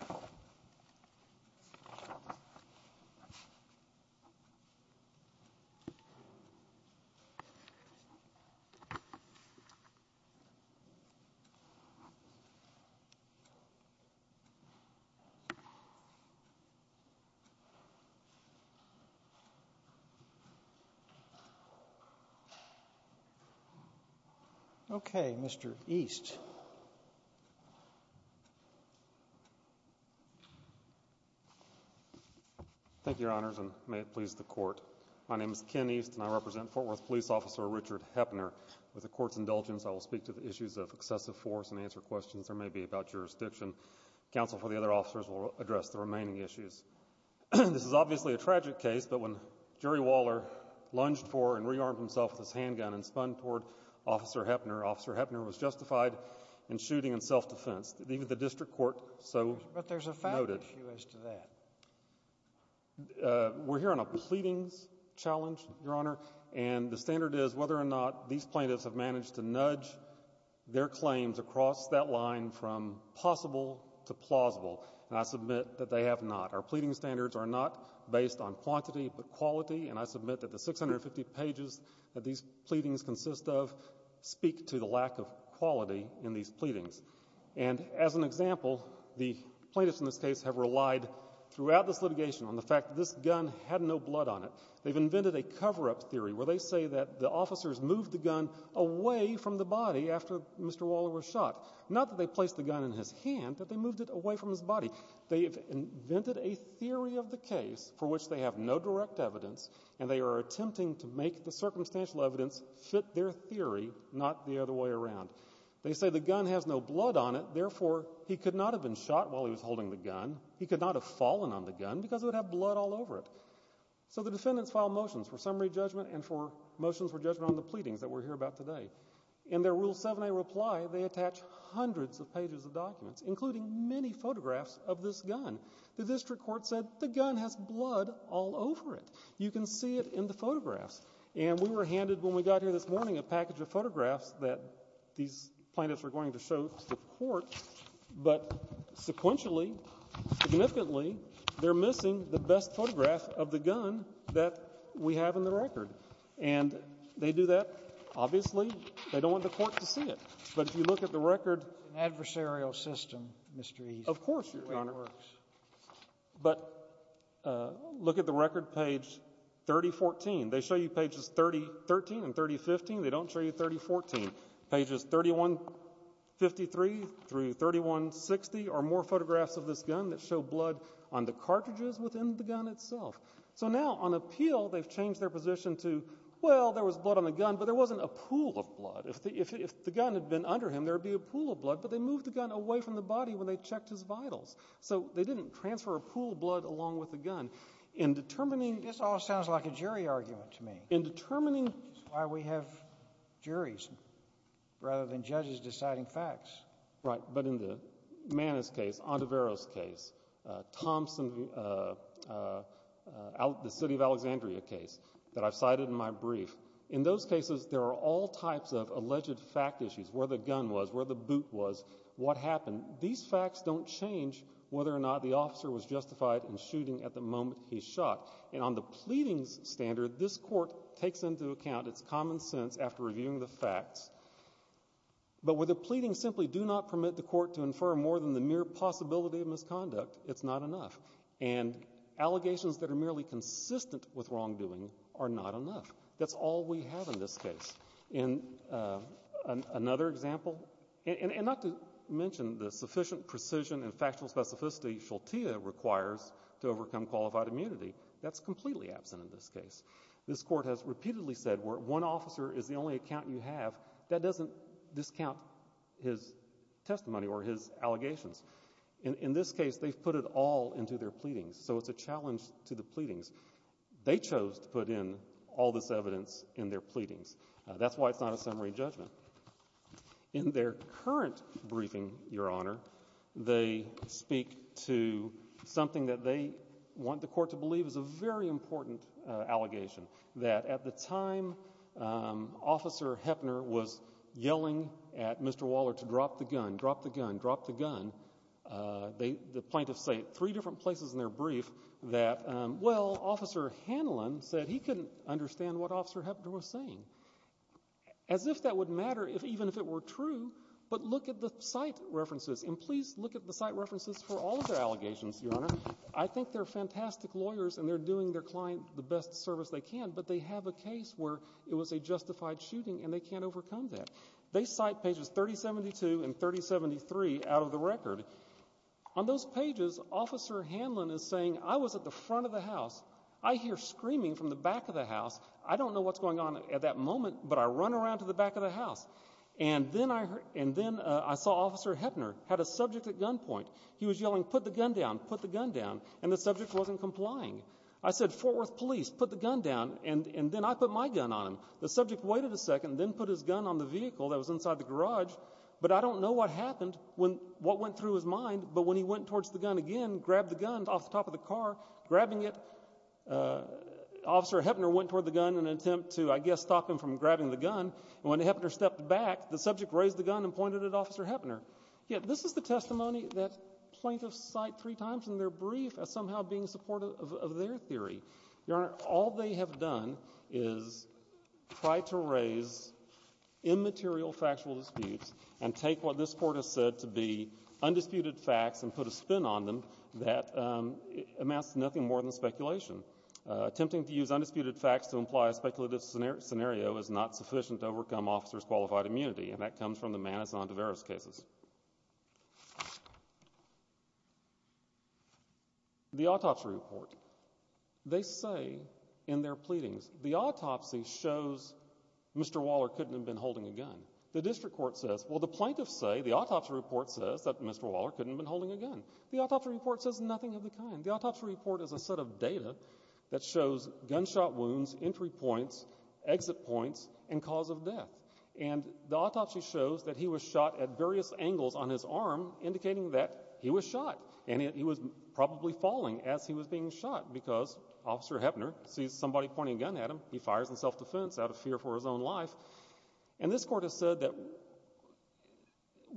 a legend Okay, Mister East Thank you your honors and may it please the court. My name is Ken East and I represent Fort Worth police officer Richard Heppner With the court's indulgence I will speak to the issues of excessive force and answer questions there may be about jurisdiction Counsel for the other officers will address the remaining issues This is obviously a tragic case But when Jerry Waller lunged for and rearmed himself with his handgun and spun toward officer Heppner officer Heppner was justified in shooting in self-defense even the district court. So but there's a fact We're here on a pleadings challenge your honor and the standard is whether or not these plaintiffs have managed to nudge Their claims across that line from possible to plausible and I submit that they have not our pleading standards are not Based on quantity but quality and I submit that the 650 pages that these pleadings consist of Speak to the lack of quality in these pleadings and as an example the plaintiffs in this case have relied Throughout this litigation on the fact that this gun had no blood on it They've invented a cover-up theory where they say that the officers moved the gun away from the body after mr Waller was shot not that they placed the gun in his hand that they moved it away from his body They have invented a theory of the case for which they have no direct evidence And they are attempting to make the circumstantial evidence fit their theory. Not the other way around They say the gun has no blood on it. Therefore. He could not have been shot while he was holding the gun He could not have fallen on the gun because it would have blood all over it So the defendants file motions for summary judgment and for motions for judgment on the pleadings that we're here about today In their rule 7a reply they attach hundreds of pages of documents including many photographs of this gun The district court said the gun has blood all over it You can see it in the photographs and we were handed when we got here this morning a package of photographs that these plaintiffs are going to show the court, but sequentially significantly, they're missing the best photograph of the gun that we have in the record and They do that. Obviously, they don't want the court to see it. But if you look at the record adversarial system mystery, of course but Look at the record page 3014 they show you pages 30 13 and 30 15. They don't show you 30 14 pages 31 53 through 31 60 or more photographs of this gun that show blood on the cartridges within the gun itself So now on appeal they've changed their position to well There was blood on the gun, but there wasn't a pool of blood if the gun had been under him There would be a pool of blood but they moved the gun away from the body when they checked his vitals So they didn't transfer a pool of blood along with the gun in Determining this all sounds like a jury argument to me in determining why we have juries Rather than judges deciding facts, right? But in the man is case on the veros case Thompson Out the city of Alexandria case that I've cited in my brief in those cases There are all types of alleged fact issues where the gun was where the boot was what happened these facts don't change Whether or not the officer was justified in shooting at the moment He shot and on the pleadings standard this court takes into account. It's common sense after reviewing the facts but with a pleading simply do not permit the court to infer more than the mere possibility of misconduct, it's not enough and Allegations that are merely consistent with wrongdoing are not enough. That's all we have in this case in Another example and not to mention the sufficient precision and factual specificity Shaltea requires to overcome qualified immunity that's completely absent in this case This court has repeatedly said where one officer is the only account you have that doesn't discount his Testimony or his allegations in this case. They've put it all into their pleadings. So it's a challenge to the pleadings They chose to put in all this evidence in their pleadings, that's why it's not a summary judgment in their current briefing your honor, they speak to Something that they want the court to believe is a very important allegation that at the time Officer Hefner was yelling at mr. Waller to drop the gun drop the gun drop the gun They the plaintiffs say three different places in their brief that well officer Hanlon said he couldn't understand what officer Hefner was saying as If that would matter if even if it were true But look at the site references and please look at the site references for all of their allegations your honor I think they're fantastic lawyers and they're doing their client the best service they can but they have a case where it was a justified Shooting and they can't overcome that they cite pages 30 72 and 30 73 out of the record on those pages Officer Hanlon is saying I was at the front of the house. I hear screaming from the back of the house I don't know what's going on at that moment But I run around to the back of the house and then I heard and then I saw officer Hefner had a subject at gunpoint He was yelling put the gun down put the gun down and the subject wasn't complying I said Fort Worth police put the gun down and and then I put my gun on him the subject waited a second then put His gun on the vehicle that was inside the garage But I don't know what happened when what went through his mind But when he went towards the gun again grabbed the gun off the top of the car grabbing it Officer Hefner went toward the gun and attempt to I guess stop him from grabbing the gun And when the Hefner stepped back the subject raised the gun and pointed at officer Hefner Yet this is the testimony that plaintiffs cite three times and they're brief as somehow being supportive of their theory your honor all they have done is Try to raise immaterial factual disputes and take what this court has said to be undisputed facts and put a spin on them that Amounts to nothing more than speculation Attempting to use undisputed facts to imply a speculative scenario scenario is not sufficient to overcome officers qualified immunity And that comes from the man is on to various cases The autopsy report They say in their pleadings the autopsy shows Mr. Waller couldn't have been holding a gun the district court says well the plaintiffs say the autopsy report says that mr Waller couldn't been holding a gun the autopsy report says nothing of the kind the autopsy report is a set of data that shows gunshot wounds entry points exit points and cause of death and the autopsy shows that he was shot at various angles on his arm indicating that he was shot and he was Probably falling as he was being shot because officer Hefner sees somebody pointing a gun at him he fires in self-defense out of fear for his own life and this court has said that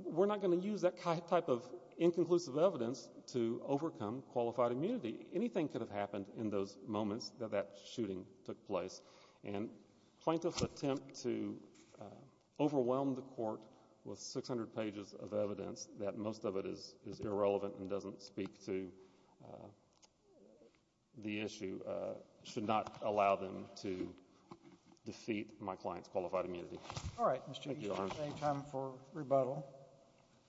We're not going to use that type of inconclusive evidence to overcome qualified immunity anything could have happened in those moments that that shooting took place and plaintiffs attempt to Overwhelm the court with 600 pages of evidence that most of it is is irrelevant and doesn't speak to The issue should not allow them to Defeat my clients qualified immunity. All right Rebuttal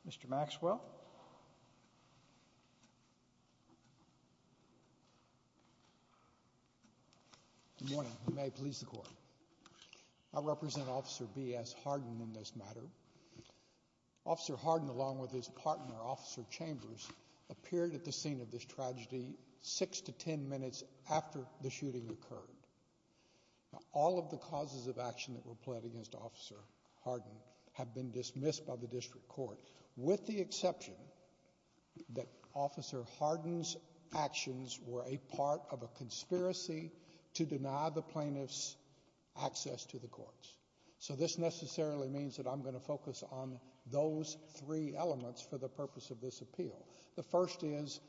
mr. Maxwell I Represent officer BS Harden in this matter Officer Harden along with his partner officer Chambers appeared at the scene of this tragedy six to ten minutes after the shooting occurred All of the causes of action that were pled against officer Harden have been dismissed by the district court with the exception That officer Harden's actions were a part of a conspiracy to deny the plaintiffs Access to the courts. So this necessarily means that I'm going to focus on those three elements for the purpose of this appeal The first is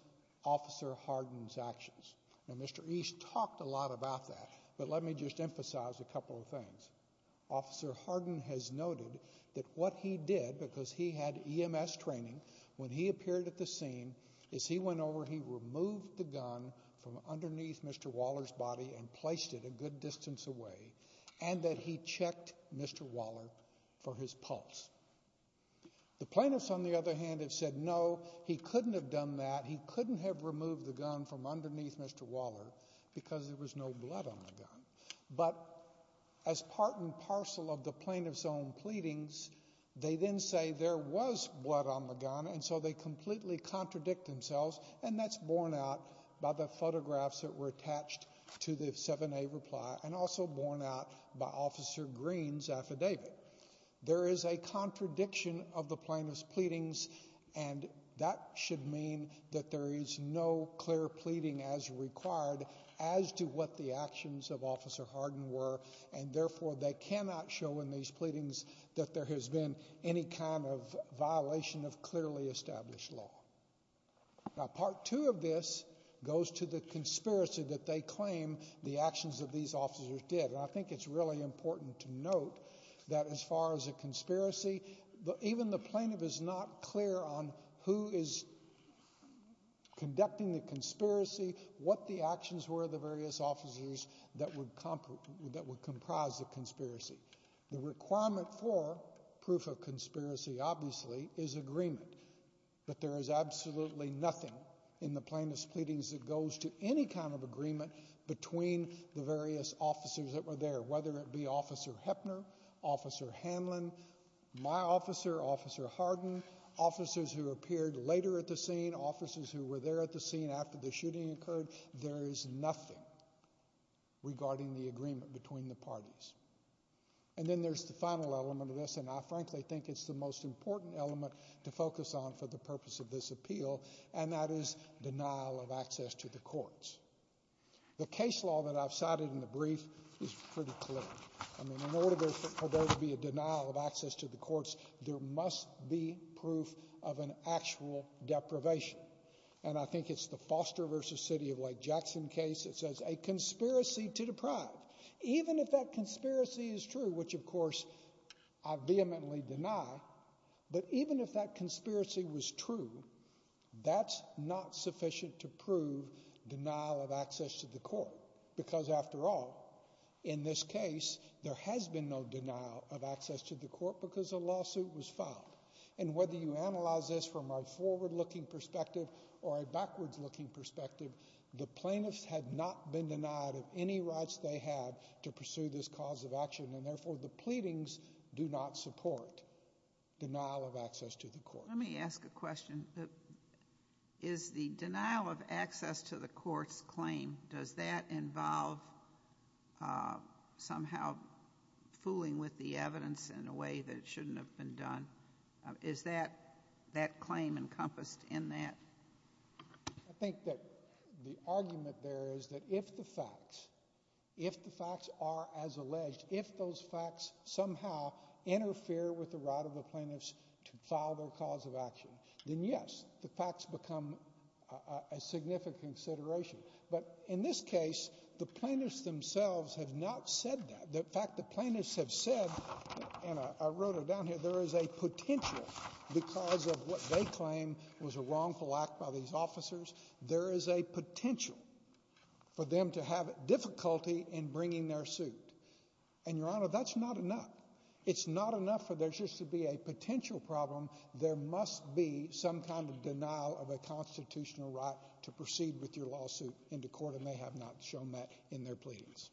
Officer Harden's actions and mr. East talked a lot about that. But let me just emphasize a couple of things Officer Harden has noted that what he did because he had EMS training when he appeared at the scene is he went over he Removed the gun from underneath. Mr. Waller's body and placed it a good distance away and that he checked. Mr Waller for his pulse The plaintiffs on the other hand have said no he couldn't have done that. He couldn't have removed the gun from underneath. Mr Because there was no blood on the gun, but as part and parcel of the plaintiff's own pleadings They then say there was blood on the gun And so they completely contradict themselves and that's borne out by the photographs that were attached To the 7a reply and also borne out by officer Greene's affidavit there is a contradiction of the plaintiff's pleadings and That should mean that there is no clear pleading as required as to what the actions of officer Harden were And therefore they cannot show in these pleadings that there has been any kind of violation of clearly established law Now part two of this goes to the conspiracy that they claim the actions of these officers did I think it's really important to note that as far as a Who is Conducting the conspiracy what the actions were the various officers that would That would comprise the conspiracy the requirement for proof of conspiracy Obviously is agreement But there is absolutely nothing in the plaintiff's pleadings that goes to any kind of agreement Between the various officers that were there whether it be officer Heppner officer Hanlon My officer officer Harden officers who appeared later at the scene officers who were there at the scene after the shooting occurred There is nothing Regarding the agreement between the parties And then there's the final element of this and I frankly think it's the most important element To focus on for the purpose of this appeal and that is denial of access to the courts The case law that I've cited in the brief is pretty clear There to be a denial of access to the courts there must be proof of an actual Deprivation and I think it's the Foster versus City of Lake Jackson case It says a conspiracy to deprive even if that conspiracy is true, which of course I vehemently deny But even if that conspiracy was true That's not sufficient to prove denial of access to the court because after all in this case there has been no denial of access to the court because a lawsuit was filed and Whether you analyze this from our forward-looking perspective or a backwards-looking perspective The plaintiffs had not been denied of any rights they had to pursue this cause of action and therefore the pleadings do not support Denial of access to the court. Let me ask a question Is the denial of access to the courts claim does that involve? somehow Fooling with the evidence in a way that it shouldn't have been done. Is that that claim encompassed in that? I Think that the argument there is that if the facts If the facts are as alleged if those facts somehow Interfere with the right of the plaintiffs to file their cause of action. Then. Yes, the facts become a Case the plaintiffs themselves have not said that that fact the plaintiffs have said and I wrote it down here There is a potential because of what they claim was a wrongful act by these officers. There is a potential For them to have difficulty in bringing their suit and your honor. That's not enough It's not enough for there's just to be a potential problem There must be some kind of denial of a constitutional right to proceed with your lawsuit into court And they have not shown that in their pleadings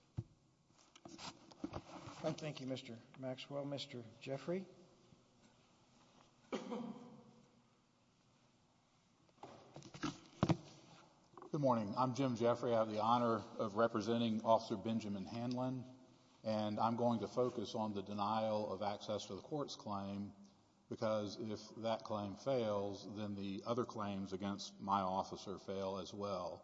Thank You, mr. Maxwell, mr. Jeffrey Good morning, I'm Jim Jeffrey. I have the honor of representing officer Benjamin Hanlon And I'm going to focus on the denial of access to the courts claim Because if that claim fails then the other claims against my officer fail as well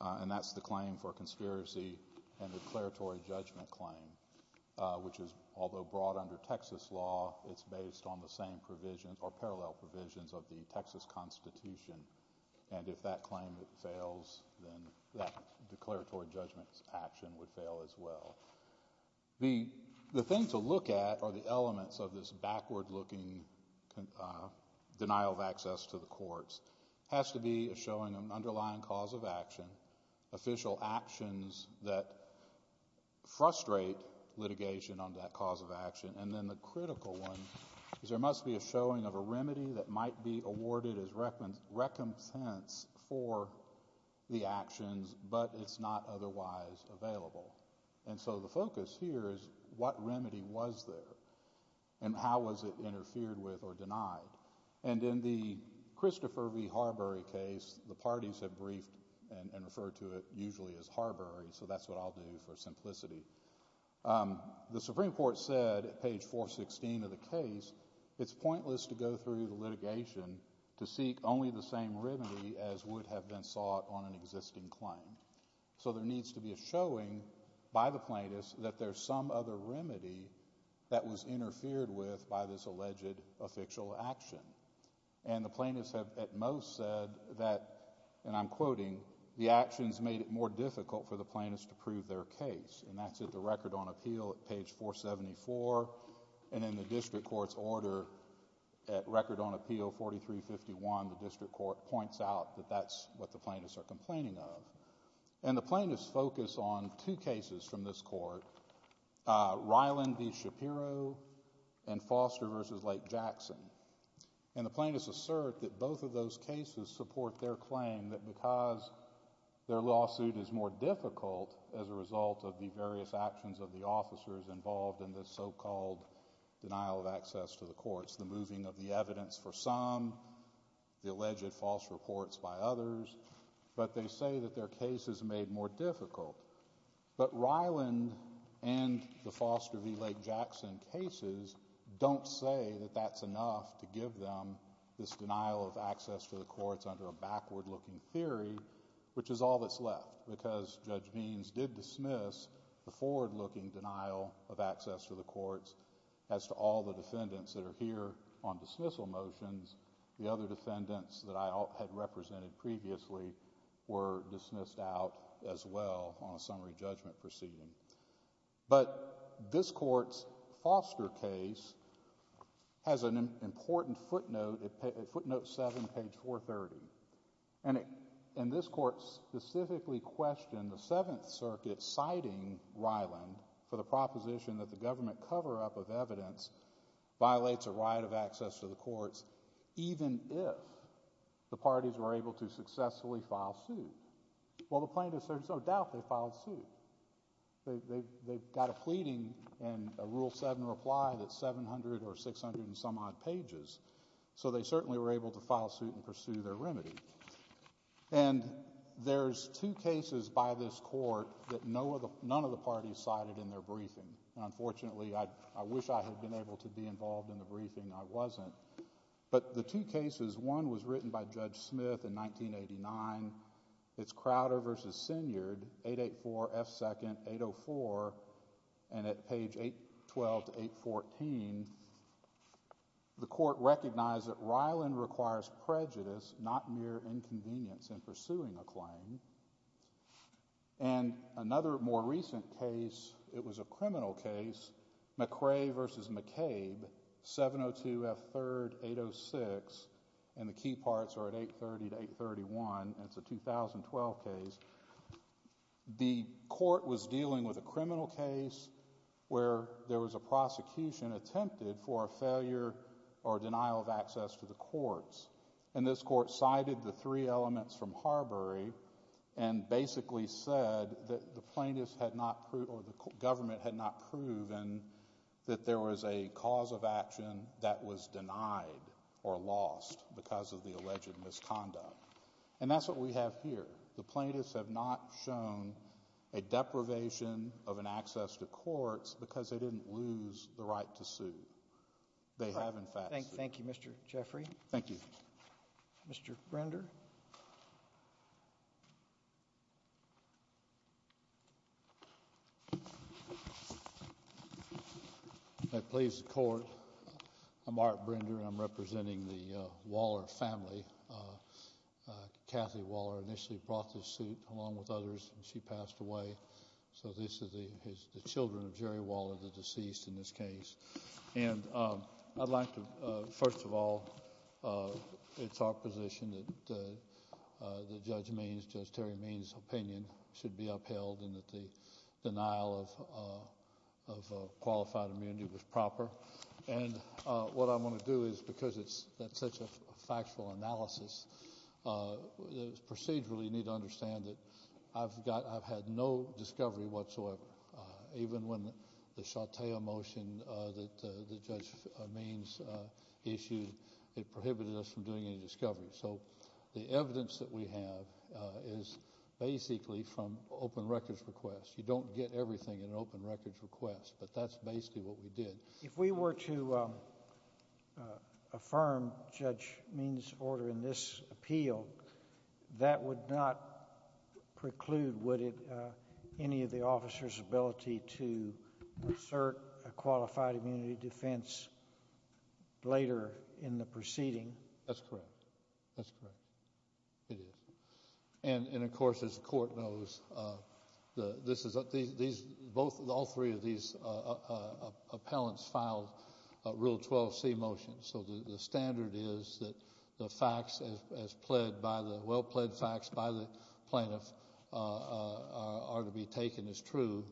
And that's the claim for conspiracy and declaratory judgment claim Which is although brought under Texas law It's based on the same provisions or parallel provisions of the Texas Constitution And if that claim fails then that declaratory judgments action would fail as well The the thing to look at are the elements of this backward looking Denial of access to the courts has to be a showing an underlying cause of action official actions that Frustrate litigation on that cause of action and then the critical one is there must be a showing of a remedy that might be awarded as reckons recompense for The actions but it's not otherwise Available and so the focus here is what remedy was there and how was it interfered with or denied? And in the Christopher V Harbury case the parties have briefed and referred to it usually as Harbury So that's what I'll do for simplicity The Supreme Court said at page 416 of the case It's pointless to go through the litigation to seek only the same remedy as would have been sought on an existing claim So there needs to be a showing by the plaintiffs that there's some other remedy That was interfered with by this alleged official action And the plaintiffs have at most said that and I'm quoting The actions made it more difficult for the plaintiffs to prove their case and that's it the record on appeal at page 474 and in the district courts order at record on appeal 4351 the district court points out that that's what the plaintiffs are complaining of and the plaintiffs focus on two cases from this court Ryland the Shapiro and Foster versus Lake Jackson and the plaintiffs assert that both of those cases support their claim that because Their lawsuit is more difficult as a result of the various actions of the officers involved in this so-called denial of access to the courts the moving of the evidence for some The alleged false reports by others, but they say that their case is made more difficult but Ryland and the Foster v. Lake Jackson cases Don't say that that's enough to give them this denial of access to the courts under a backward-looking theory Which is all that's left because judge means did dismiss The forward-looking denial of access to the courts as to all the defendants that are here on dismissal motions The other defendants that I had represented previously were dismissed out as well on a summary judgment proceeding but this court's Foster case Has an important footnote footnote 7 page 430 and it and this court Specifically questioned the Seventh Circuit citing Ryland for the proposition that the government cover-up of evidence violates a right of access to the courts even if The parties were able to successfully file suit Well the plaintiffs there's no doubt they filed suit They've got a pleading and a rule 7 reply that's 700 or 600 and some odd pages so they certainly were able to file suit and pursue their remedy and There's two cases by this court that no other none of the parties cited in their briefing Unfortunately, I wish I had been able to be involved in the briefing I wasn't but the two cases one was written by Judge Smith in 1989 It's Crowder vs. Synyrd 884 F 2nd 804 and at page 812 to 814 The court recognized that Ryland requires prejudice not mere inconvenience in pursuing a claim and Another more recent case it was a criminal case McRae vs. McCabe 702 F 3rd 806 and the key parts are at 830 to 831. It's a 2012 case The court was dealing with a criminal case Where there was a prosecution attempted for a failure or denial of access to the courts and this court? cited the three elements from Harbury and basically said that the plaintiffs had not proved or the government had not proven that There was a cause of action that was denied or lost because of the alleged misconduct and that's what we have here the plaintiffs have not shown a Deprivation of an access to courts because they didn't lose the right to sue They have in fact, thank you. Thank You. Mr. Jeffrey. Thank you Mr. Render Please the court. I'm Art Brinder. I'm representing the Waller family Kathy Waller initially brought this suit along with others and she passed away So this is the children of Jerry Waller the deceased in this case, and I'd like to first of all it's our position that the judge means just Terry means opinion should be upheld and that the denial of Qualified immunity was proper. And what I'm going to do is because it's that's such a factual analysis Procedurally need to understand that I've got I've had no discovery whatsoever Even when the Chatea motion that the judge means Issued it prohibited us from doing any discovery. So the evidence that we have is Basically from open records requests, you don't get everything in an open records request, but that's basically what we did if we were to Affirm judge means order in this appeal that would not preclude would it any of the officers ability to assert a qualified immunity defense Later in the proceeding. That's correct. That's correct And and of course as the court knows the this is a these both of all three of these appellants filed Rule 12 C motion. So the standard is that the facts as pled by the well-pled facts by the plaintiff Are to be taken as true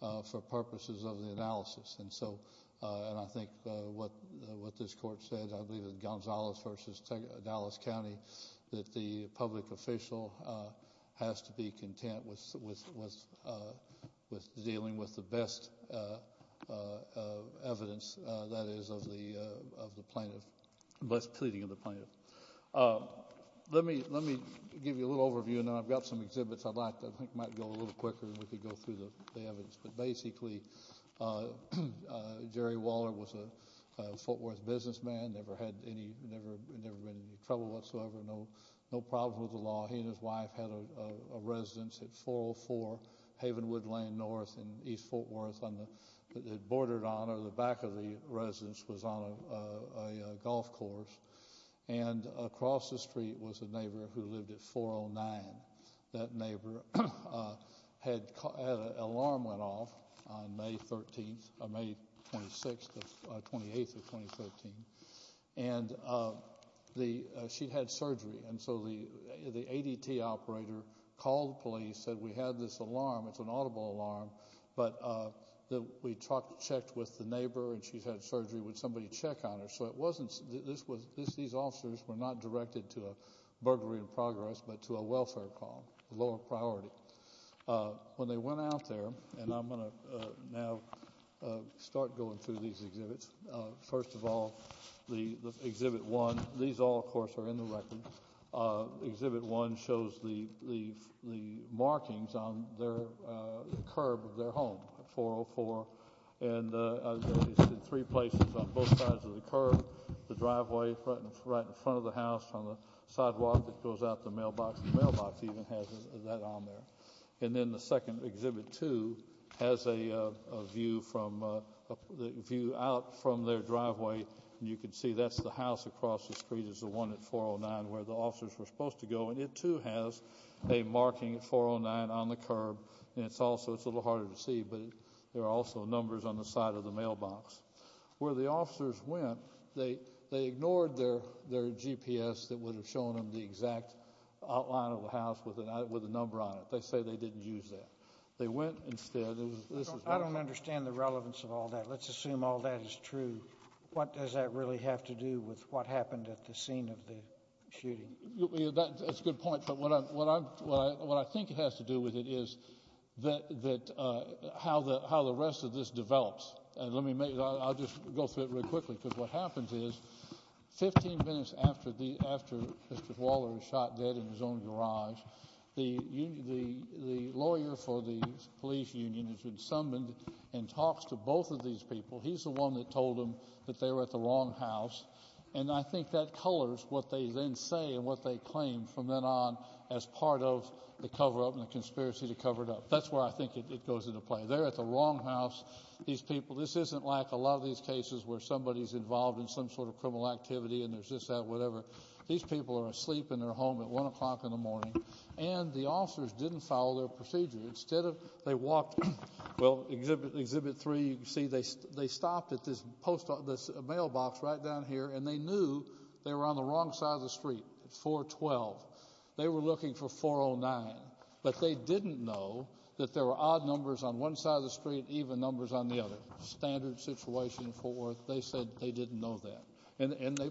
For purposes of the analysis and so and I think what what this court said Gonzalez versus Dallas County that the public official has to be content with With dealing with the best Evidence that is of the plaintiff bless pleading of the plaintiff Let me let me give you a little overview and I've got some exhibits I'd like to think might go a little quicker. We could go through the evidence, but basically Jerry Waller was a Fort Worth businessman never had any Trouble whatsoever. No, no problem with the law. He and his wife had a residence at 404 Havenwood Lane North in East Fort Worth on the bordered on or the back of the residence was on a golf course and Across the street was a neighbor who lived at 409 that neighbor Had alarm went off on May 13th of May 26 28th of 2013 and The she'd had surgery and so the the ADT operator called police said we had this alarm It's an audible alarm, but the we talked checked with the neighbor and she's had surgery would somebody check on her? So it wasn't this was this these officers were not directed to a burglary in progress But to a welfare call lower priority When they went out there and I'm going to now Start going through these exhibits. First of all, the exhibit one these all of course are in the record exhibit one shows the markings on their curb of their home for for and Three places on both sides of the curve the driveway front right in front of the house on the sidewalk that goes out the mailbox mailbox even has that on there and then the second exhibit to has a view from The view out from their driveway and you can see that's the house across the street is the one at 409 where the officers were Supposed to go and it too has a marking 409 on the curb It's also it's a little harder to see but there are also numbers on the side of the mailbox Where the officers went they they ignored their their GPS that would have shown them the exact Outline of the house with an eye with a number on it. They say they didn't use that they went instead I don't understand the relevance of all that. Let's assume all that is true What does that really have to do with what happened at the scene of the shooting? That's a good point, but what I'm what I'm what I think it has to do with it is that that How the how the rest of this develops and let me make I'll just go through it really quickly because what happens is 15 minutes after the after mr. Waller shot dead in his own garage The union the the lawyer for the police union has been summoned and talks to both of these people He's the one that told him that they were at the wrong house and I think that colors what they then say and what they claim from then on as Part of the cover-up and the conspiracy to cover it up. That's where I think it goes into play They're at the wrong house These people this isn't like a lot of these cases where somebody's involved in some sort of criminal activity and there's just that whatever These people are asleep in their home at one o'clock in the morning and the officers didn't follow their procedure instead of they walked Well exhibit exhibit 3 you see they they stopped at this post office mailbox right down here and they knew They were on the wrong side of the street 412 They were looking for 409 But they didn't know that there were odd numbers on one side of the street even numbers on the other standard situation for they said they didn't know that and and they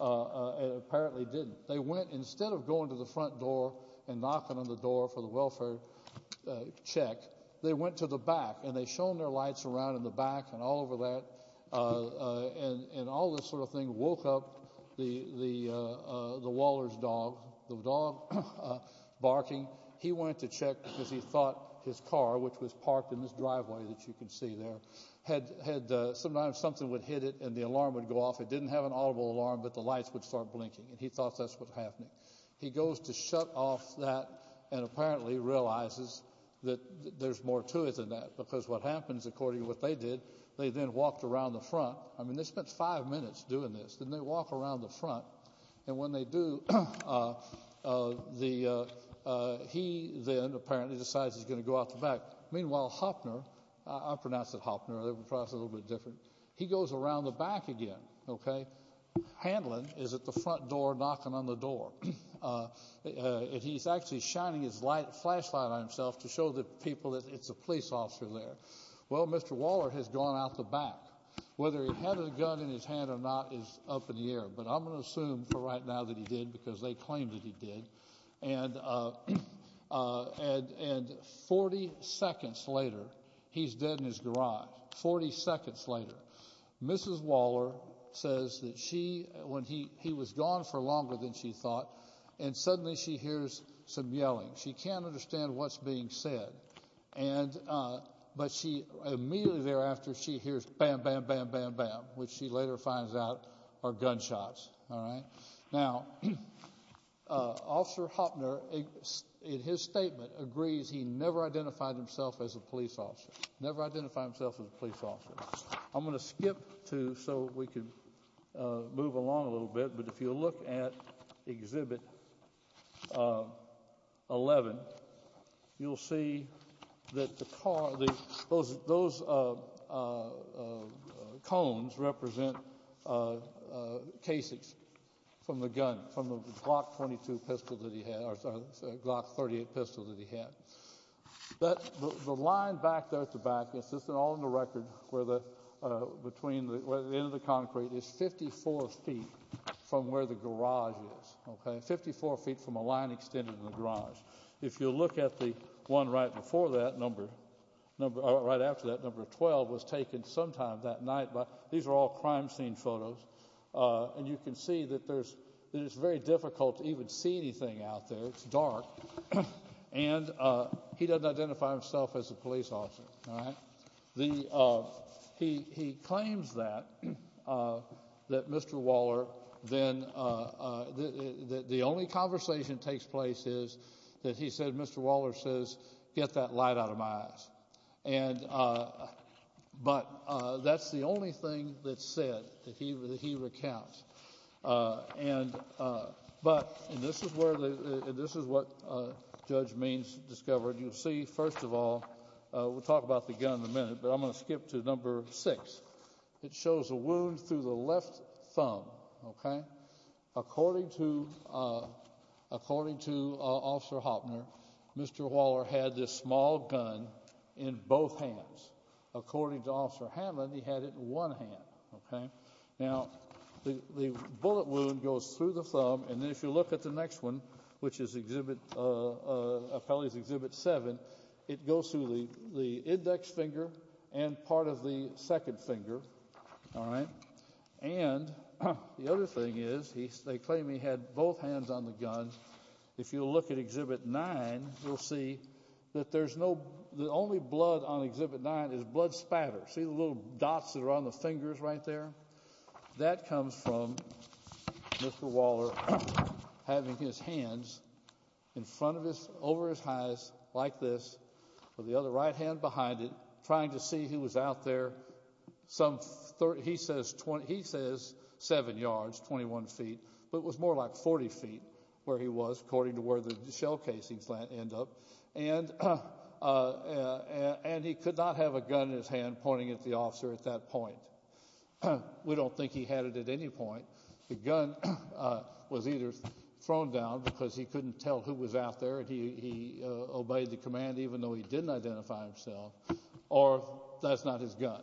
Apparently didn't they went instead of going to the front door and knocking on the door for the welfare Check they went to the back and they shown their lights around in the back and all over that And and all this sort of thing woke up the the the Waller's dog the dog Barking he went to check because he thought his car which was parked in this driveway that you can see there Had had sometimes something would hit it and the alarm would go off It didn't have an audible alarm, but the lights would start blinking and he thought that's what's happening He goes to shut off that and apparently realizes that There's more to it than that because what happens according to what they did they then walked around the front I mean, they spent five minutes doing this then they walk around the front and when they do The He then apparently decides he's going to go out the back. Meanwhile Hopner. I'm pronounced at Hopner They were crossed a little bit different. He goes around the back again, okay Handling is at the front door knocking on the door And he's actually shining his light flashlight on himself to show the people that it's a police officer there Well, mr. Waller has gone out the back whether he had a gun in his hand or not is up in the air but I'm gonna assume for right now that he did because they claimed that he did and And and 40 seconds later he's dead in his garage 40 seconds later Mrs. Waller says that she when he he was gone for longer than she thought and suddenly she hears some yelling she can't understand what's being said and But she immediately thereafter she hears bam. Bam. Bam. Bam. Bam, which she later finds out are gunshots. All right now Officer Hopner In his statement agrees. He never identified himself as a police officer never identified himself as a police officer I'm going to skip to so we can Move along a little bit, but if you look at exhibit 11 you'll see that the car the those Cones represent Kasich's from the gun from the block 22 pistol that he had or sorry block 38 pistol that he had But the line back there at the back, it's just an all-in-the-record where the Between the end of the concrete is 54 feet from where the garage is Okay, 54 feet from a line extended in the garage If you look at the one right before that number Number right after that number of 12 was taken sometime that night, but these are all crime scene photos And you can see that there's it's very difficult to even see anything out there. It's dark and He doesn't identify himself as a police officer, all right the He he claims that that mr. Waller then The only conversation takes place is that he said mr. Waller says get that light out of my eyes and But that's the only thing that said that he was he recounts and But this is where this is what judge means discovered you see first of all We'll talk about the gun in a minute, but I'm going to skip to number six. It shows a wound through the left thumb Okay according to According to officer Hopner. Mr. Waller had this small gun in both hands According to officer Hammond he had it in one hand Okay. Now the the bullet wound goes through the thumb and then if you look at the next one, which is exhibit Appellees exhibit seven it goes through the the index finger and part of the second finger all right, and The other thing is he they claim he had both hands on the gun If you look at exhibit nine See that there's no the only blood on exhibit nine is blood spatter see the little dots that are on the fingers right there that comes from Mr. Waller Having his hands in front of his over his eyes like this For the other right hand behind it trying to see who was out there Some 30 he says 20 he says seven yards 21 feet But it was more like 40 feet where he was according to where the shell casings land end up and And he could not have a gun in his hand pointing at the officer at that point We don't think he had it at any point the gun was either thrown down because he couldn't tell who was out there and he Obeyed the command even though he didn't identify himself or that's not his gun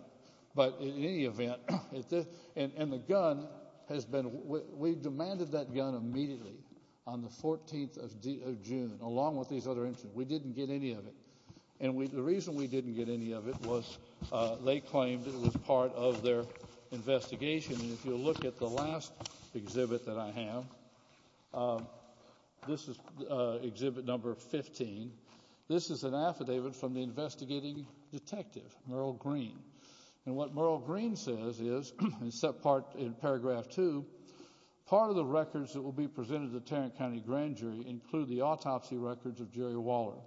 But in any event if this and and the gun has been we demanded that gun immediately on the 14th of June along with these other incidents We didn't get any of it. And we the reason we didn't get any of it was they claimed it was part of their Investigation and if you look at the last exhibit that I have This is exhibit number 15 This is an affidavit from the investigating detective Merle green And what Merle green says is and set part in paragraph two Part of the records that will be presented the Tarrant County grand jury include the autopsy records of Jerry Waller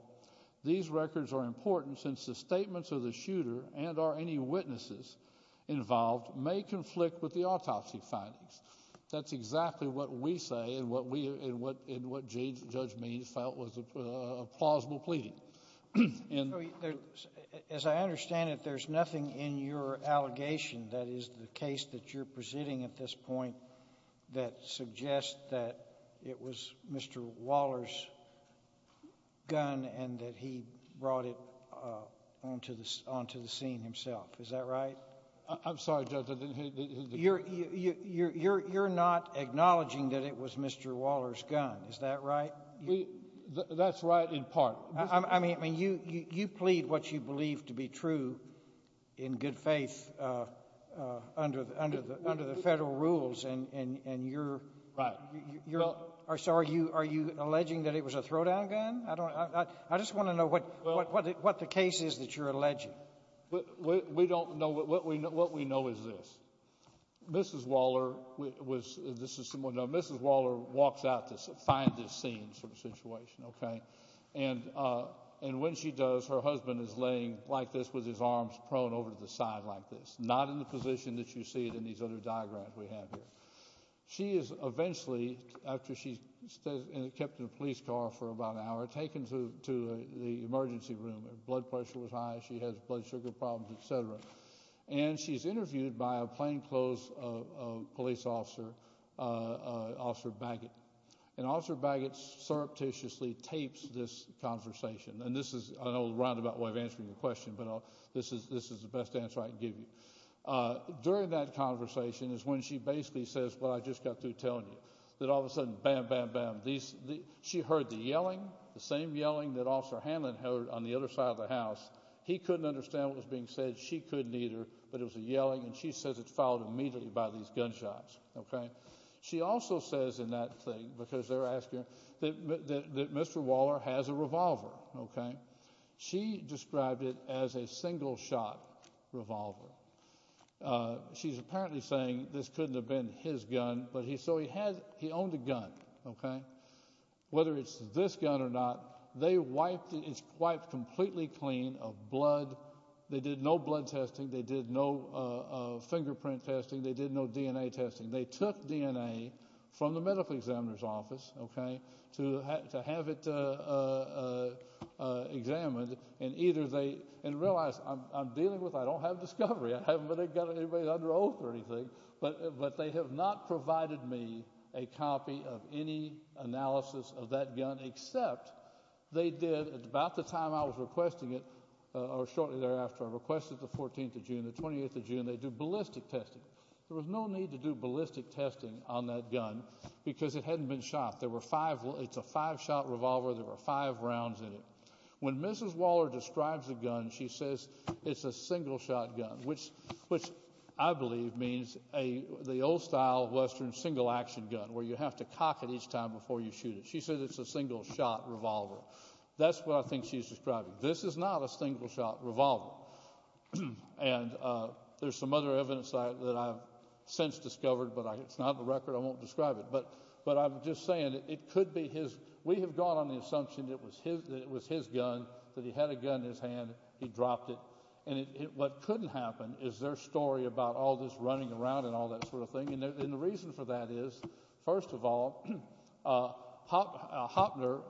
These records are important since the statements of the shooter and are any witnesses Involved may conflict with the autopsy findings That's exactly what we say and what we and what in what James judge means felt was a plausible pleading And As I understand it, there's nothing in your allegation. That is the case that you're presenting at this point That suggests that it was mr. Waller's Gun and that he brought it Onto this onto the scene himself. Is that right? I'm sorry You're you're you're you're not acknowledging that it was mr. Waller's gun. Is that right? That's right in part, I mean you you plead what you believe to be true in good faith under the under the under the federal rules and and and you're You're sorry. You are you alleging that it was a throwdown gun? I don't I just want to know what what the case is That you're alleging We don't know what we know. What we know is this Mrs. Waller was this is someone no, mrs. Waller walks out to find this scene sort of situation okay, and And when she does her husband is laying like this with his arms prone over the side like this not in the position that you See it in these other diagrams we have here She is eventually after she stays and it kept in a police car for about an hour taken to the emergency room Her blood pressure was high. She has blood sugar problems, etc And she's interviewed by a plainclothes police officer Officer Baggett and officer Baggett Surreptitiously tapes this conversation and this is an old roundabout way of answering the question But oh, this is this is the best answer I can give you During that conversation is when she basically says well I just got through telling you that all of a sudden bam bam bam these She heard the yelling the same yelling that officer Hanlon heard on the other side of the house He couldn't understand what was being said. She couldn't either but it was a yelling and she says it's followed immediately by these gunshots Okay, she also says in that thing because they're asking that Mr. Waller has a revolver. Okay, she described it as a single shot revolver She's apparently saying this couldn't have been his gun, but he so he had he owned a gun. Okay Whether it's this gun or not, they wiped it's quite completely clean of blood. They did no blood testing They did no Fingerprint testing they did no DNA testing. They took DNA from the medical examiner's office. Okay to have it Examined and either they and realize I'm dealing with I don't have discovery I haven't got anybody under oath or anything But but they have not provided me a copy of any analysis of that gun except They did it's about the time. I was requesting it or shortly thereafter I requested the 14th of June the 28th of June. They do ballistic testing There was no need to do ballistic testing on that gun because it hadn't been shot. There were five. It's a five shot revolver There were five rounds in it when mrs. Waller describes the gun She says it's a single shot gun Which which I believe means a the old style Western single-action gun where you have to cock it each time before you shoot it She said it's a single shot revolver. That's what I think she's describing. This is not a single shot revolver and There's some other evidence that I've since discovered but I it's not the record I won't describe it but but I'm just saying it could be his we have gone on the assumption It was his gun that he had a gun in his hand He dropped it and it what couldn't happen is their story about all this running around and all that sort of thing And the reason for that is first of all pop Hopner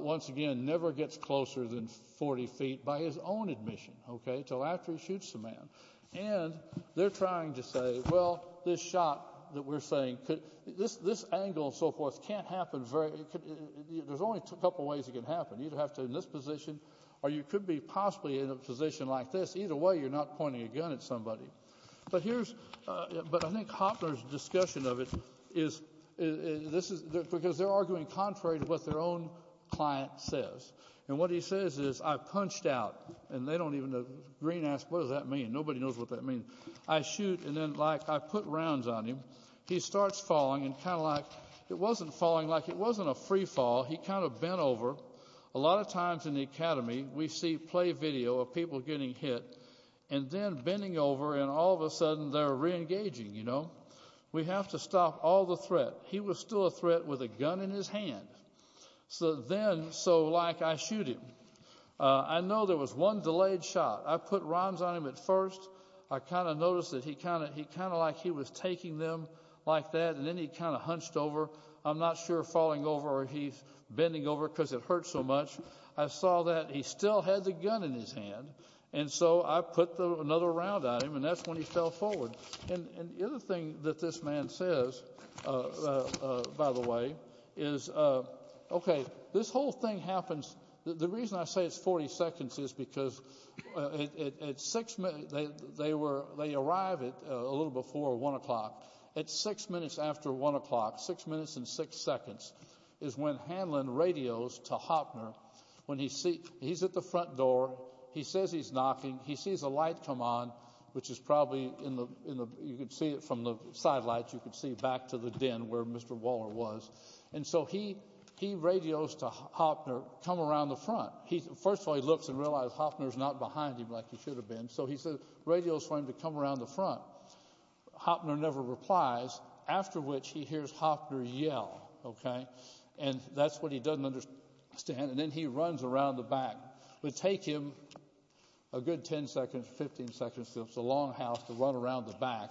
Once again never gets closer than 40 feet by his own admission. Okay till after he shoots the man and They're trying to say well this shot that we're saying could this this angle so forth can't happen very There's only a couple ways it can happen you'd have to in this position or you could be possibly in a position like this either Way, you're not pointing a gun at somebody but here's but I think Hopner's discussion of it is This is because they're arguing contrary to what their own Client says and what he says is I punched out and they don't even know green ass. What does that mean? Nobody knows what that means. I shoot and then like I put rounds on him He starts falling and kind of like it wasn't falling like it wasn't a free fall he kind of bent over a lot of times in the Academy we see play video of people getting hit and Then bending over and all of a sudden they're reengaging, you know, we have to stop all the threat He was still a threat with a gun in his hand So then so like I shoot him. I know there was one delayed shot. I put rounds on him at first I kind of noticed that he kind of he kind of like he was taking them like that and then he kind of hunched over I'm not sure falling over. He's bending over because it hurts so much I saw that he still had the gun in his hand And so I put the another round on him and that's when he fell forward and the other thing that this man says by the way is Okay, this whole thing happens. The reason I say it's 40 seconds is because It's six minutes they were they arrived it a little before one o'clock It's six minutes after one o'clock six minutes and six seconds is when Hanlon radios to Hopner When he see he's at the front door. He says he's knocking He sees a light come on which is probably in the you could see it from the side lights You could see back to the den where mr. Waller was and so he he radios to Hopner come around the front First of all, he looks and realized Hopner's not behind him like he should have been so he said radios for him to come around the front Hopner never replies after which he hears Hopner yell Okay, and that's what he doesn't understand and then he runs around the back would take him a Good 10 seconds 15 seconds. It's a long house to run around the back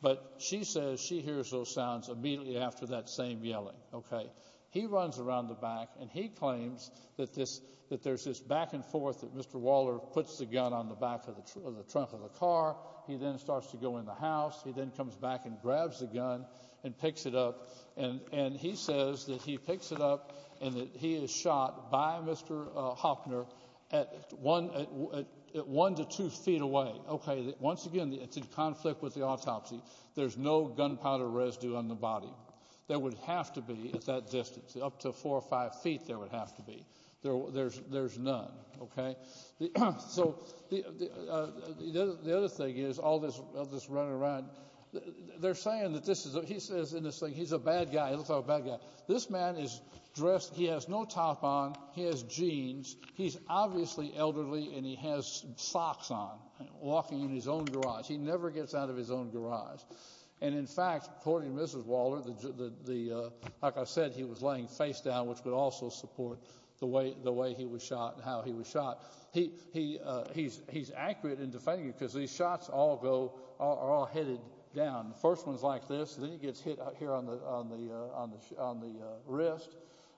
But she says she hears those sounds immediately after that same yelling Okay, he runs around the back and he claims that this that there's this back-and-forth that mr Waller puts the gun on the back of the trunk of the car. He then starts to go in the house He then comes back and grabs the gun and picks it up and and he says that he picks it up and that he is Shot by mr. Hopner at one at one to two feet away Okay, once again, it's in conflict with the autopsy. There's no gunpowder residue on the body There would have to be at that distance up to four or five feet. There would have to be there. There's there's none okay, so The other thing is all this this running around They're saying that this is he says in this thing. He's a bad guy. He looks like a bad guy This man is dressed. He has no top on he has jeans He's obviously elderly and he has socks on walking in his own garage He never gets out of his own garage. And in fact, according to mrs. Waller the the like I said, he was laying face down which would also support the way the way he was shot And how he was shot he he he's he's accurate in defending because these shots all go are all headed down The first ones like this then he gets hit out here on the on the on the on the wrist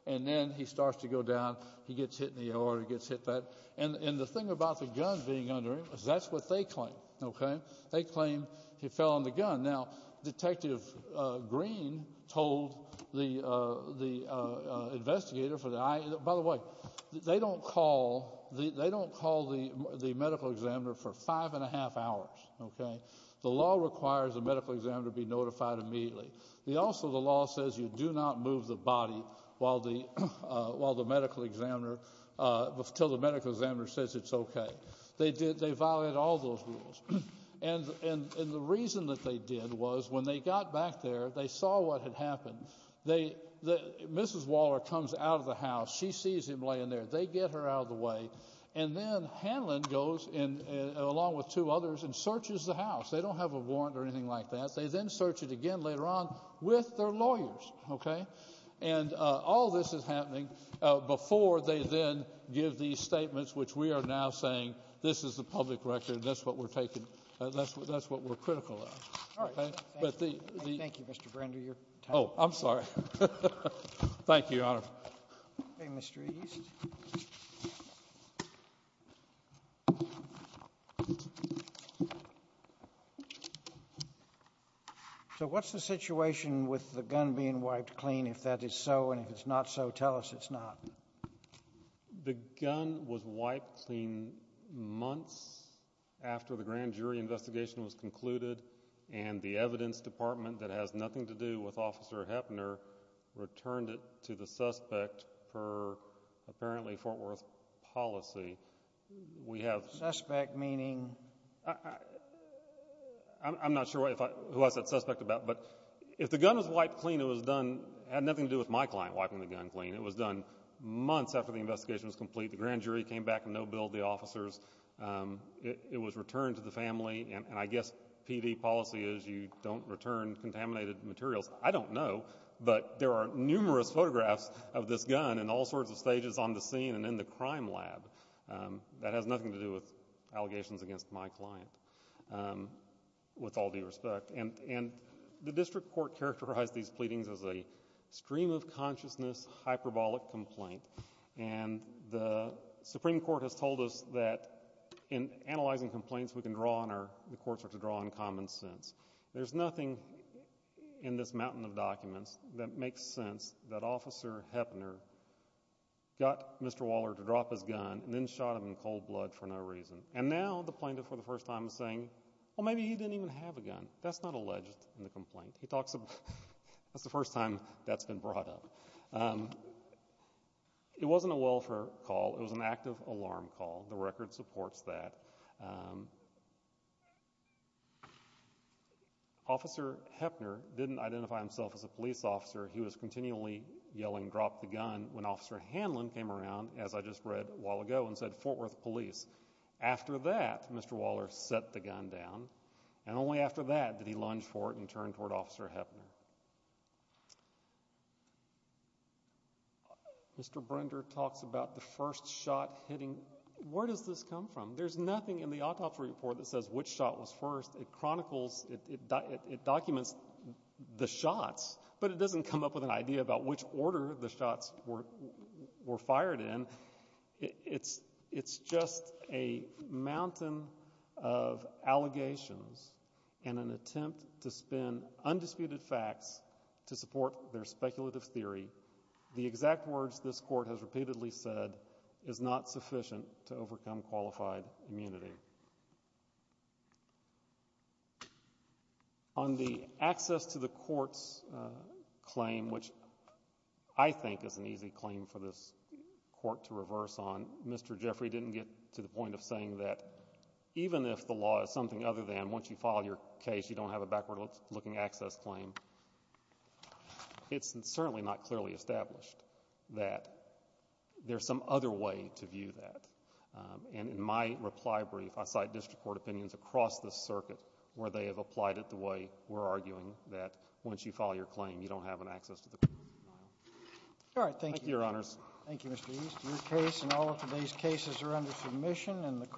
And then he starts to go down He gets hit in the order gets hit that and and the thing about the gun being under him is that's what they claim okay, they claim he fell on the gun now detective green told the the Investigator for the eye, by the way, they don't call the they don't call the the medical examiner for five and a half hours Okay, the law requires a medical examiner be notified immediately He also the law says you do not move the body while the while the medical examiner Till the medical examiner says it's okay They did they violated all those rules and and and the reason that they did was when they got back there They saw what had happened. They the mrs. Waller comes out of the house. She sees him laying there They get her out of the way and then Hanlon goes in along with two others and searches the house They don't have a warrant or anything like that. They then search it again later on with their lawyers Okay, and All this is happening before they then give these statements, which we are now saying this is the public record That's what we're taking. That's what that's what we're critical. Okay, but the Oh, I'm sorry Thank you So What's the situation with the gun being wiped clean if that is so and if it's not so tell us it's not The gun was wiped clean months After the grand jury investigation was concluded and the evidence department that has nothing to do with officer Heppner Returned it to the suspect for apparently Fort Worth policy. We have suspect meaning I'm not sure if I was that suspect about but if the gun was wiped clean It was done had nothing to do with my client wiping the gun clean It was done months after the investigation was complete. The grand jury came back and no bill the officers It was returned to the family and I guess PD policy is you don't return contaminated materials I don't know but there are numerous photographs of this gun and all sorts of stages on the scene and in the crime lab That has nothing to do with allegations against my client with all due respect and and the district court characterized these pleadings as a stream of consciousness hyperbolic complaint and The Supreme Court has told us that in analyzing complaints we can draw on our the courts are to draw on common sense There's nothing In this mountain of documents that makes sense that officer Heppner Got mr Waller to drop his gun and then shot him in cold blood for no reason and now the plaintiff for the first time is saying Well, maybe he didn't even have a gun. That's not alleged in the complaint. He talks about that's the first time that's been brought up It wasn't a welfare call it was an active alarm call the record supports that Officer Heppner didn't identify himself as a police officer He was continually yelling drop the gun when officer Hanlon came around as I just read a while ago and said Fort Worth Police After that, mr. Waller set the gun down and only after that did he lunge for it and turn toward officer Heppner Mr. Brinder talks about the first shot hitting. Where does this come from? There's nothing in the autopsy report that says which shot was first it chronicles it Documents the shots, but it doesn't come up with an idea about which order the shots were were fired in it's it's just a mountain of allegations in an attempt to spin Undisputed facts to support their speculative theory the exact words This court has repeatedly said is not sufficient to overcome qualified immunity On the access to the courts Claim which I think is an easy claim for this court to reverse on mr. Jeffrey didn't get to the point of saying that Even if the law is something other than once you file your case, you don't have a backward-looking access claim It's certainly not clearly established that There's some other way to view that And in my reply brief, I cite district court opinions across the circuit where they have applied it the way we're arguing that Once you file your claim, you don't have an access to the All right. Thank you. Your honors. Thank you Case in all of today's cases are under submission and the court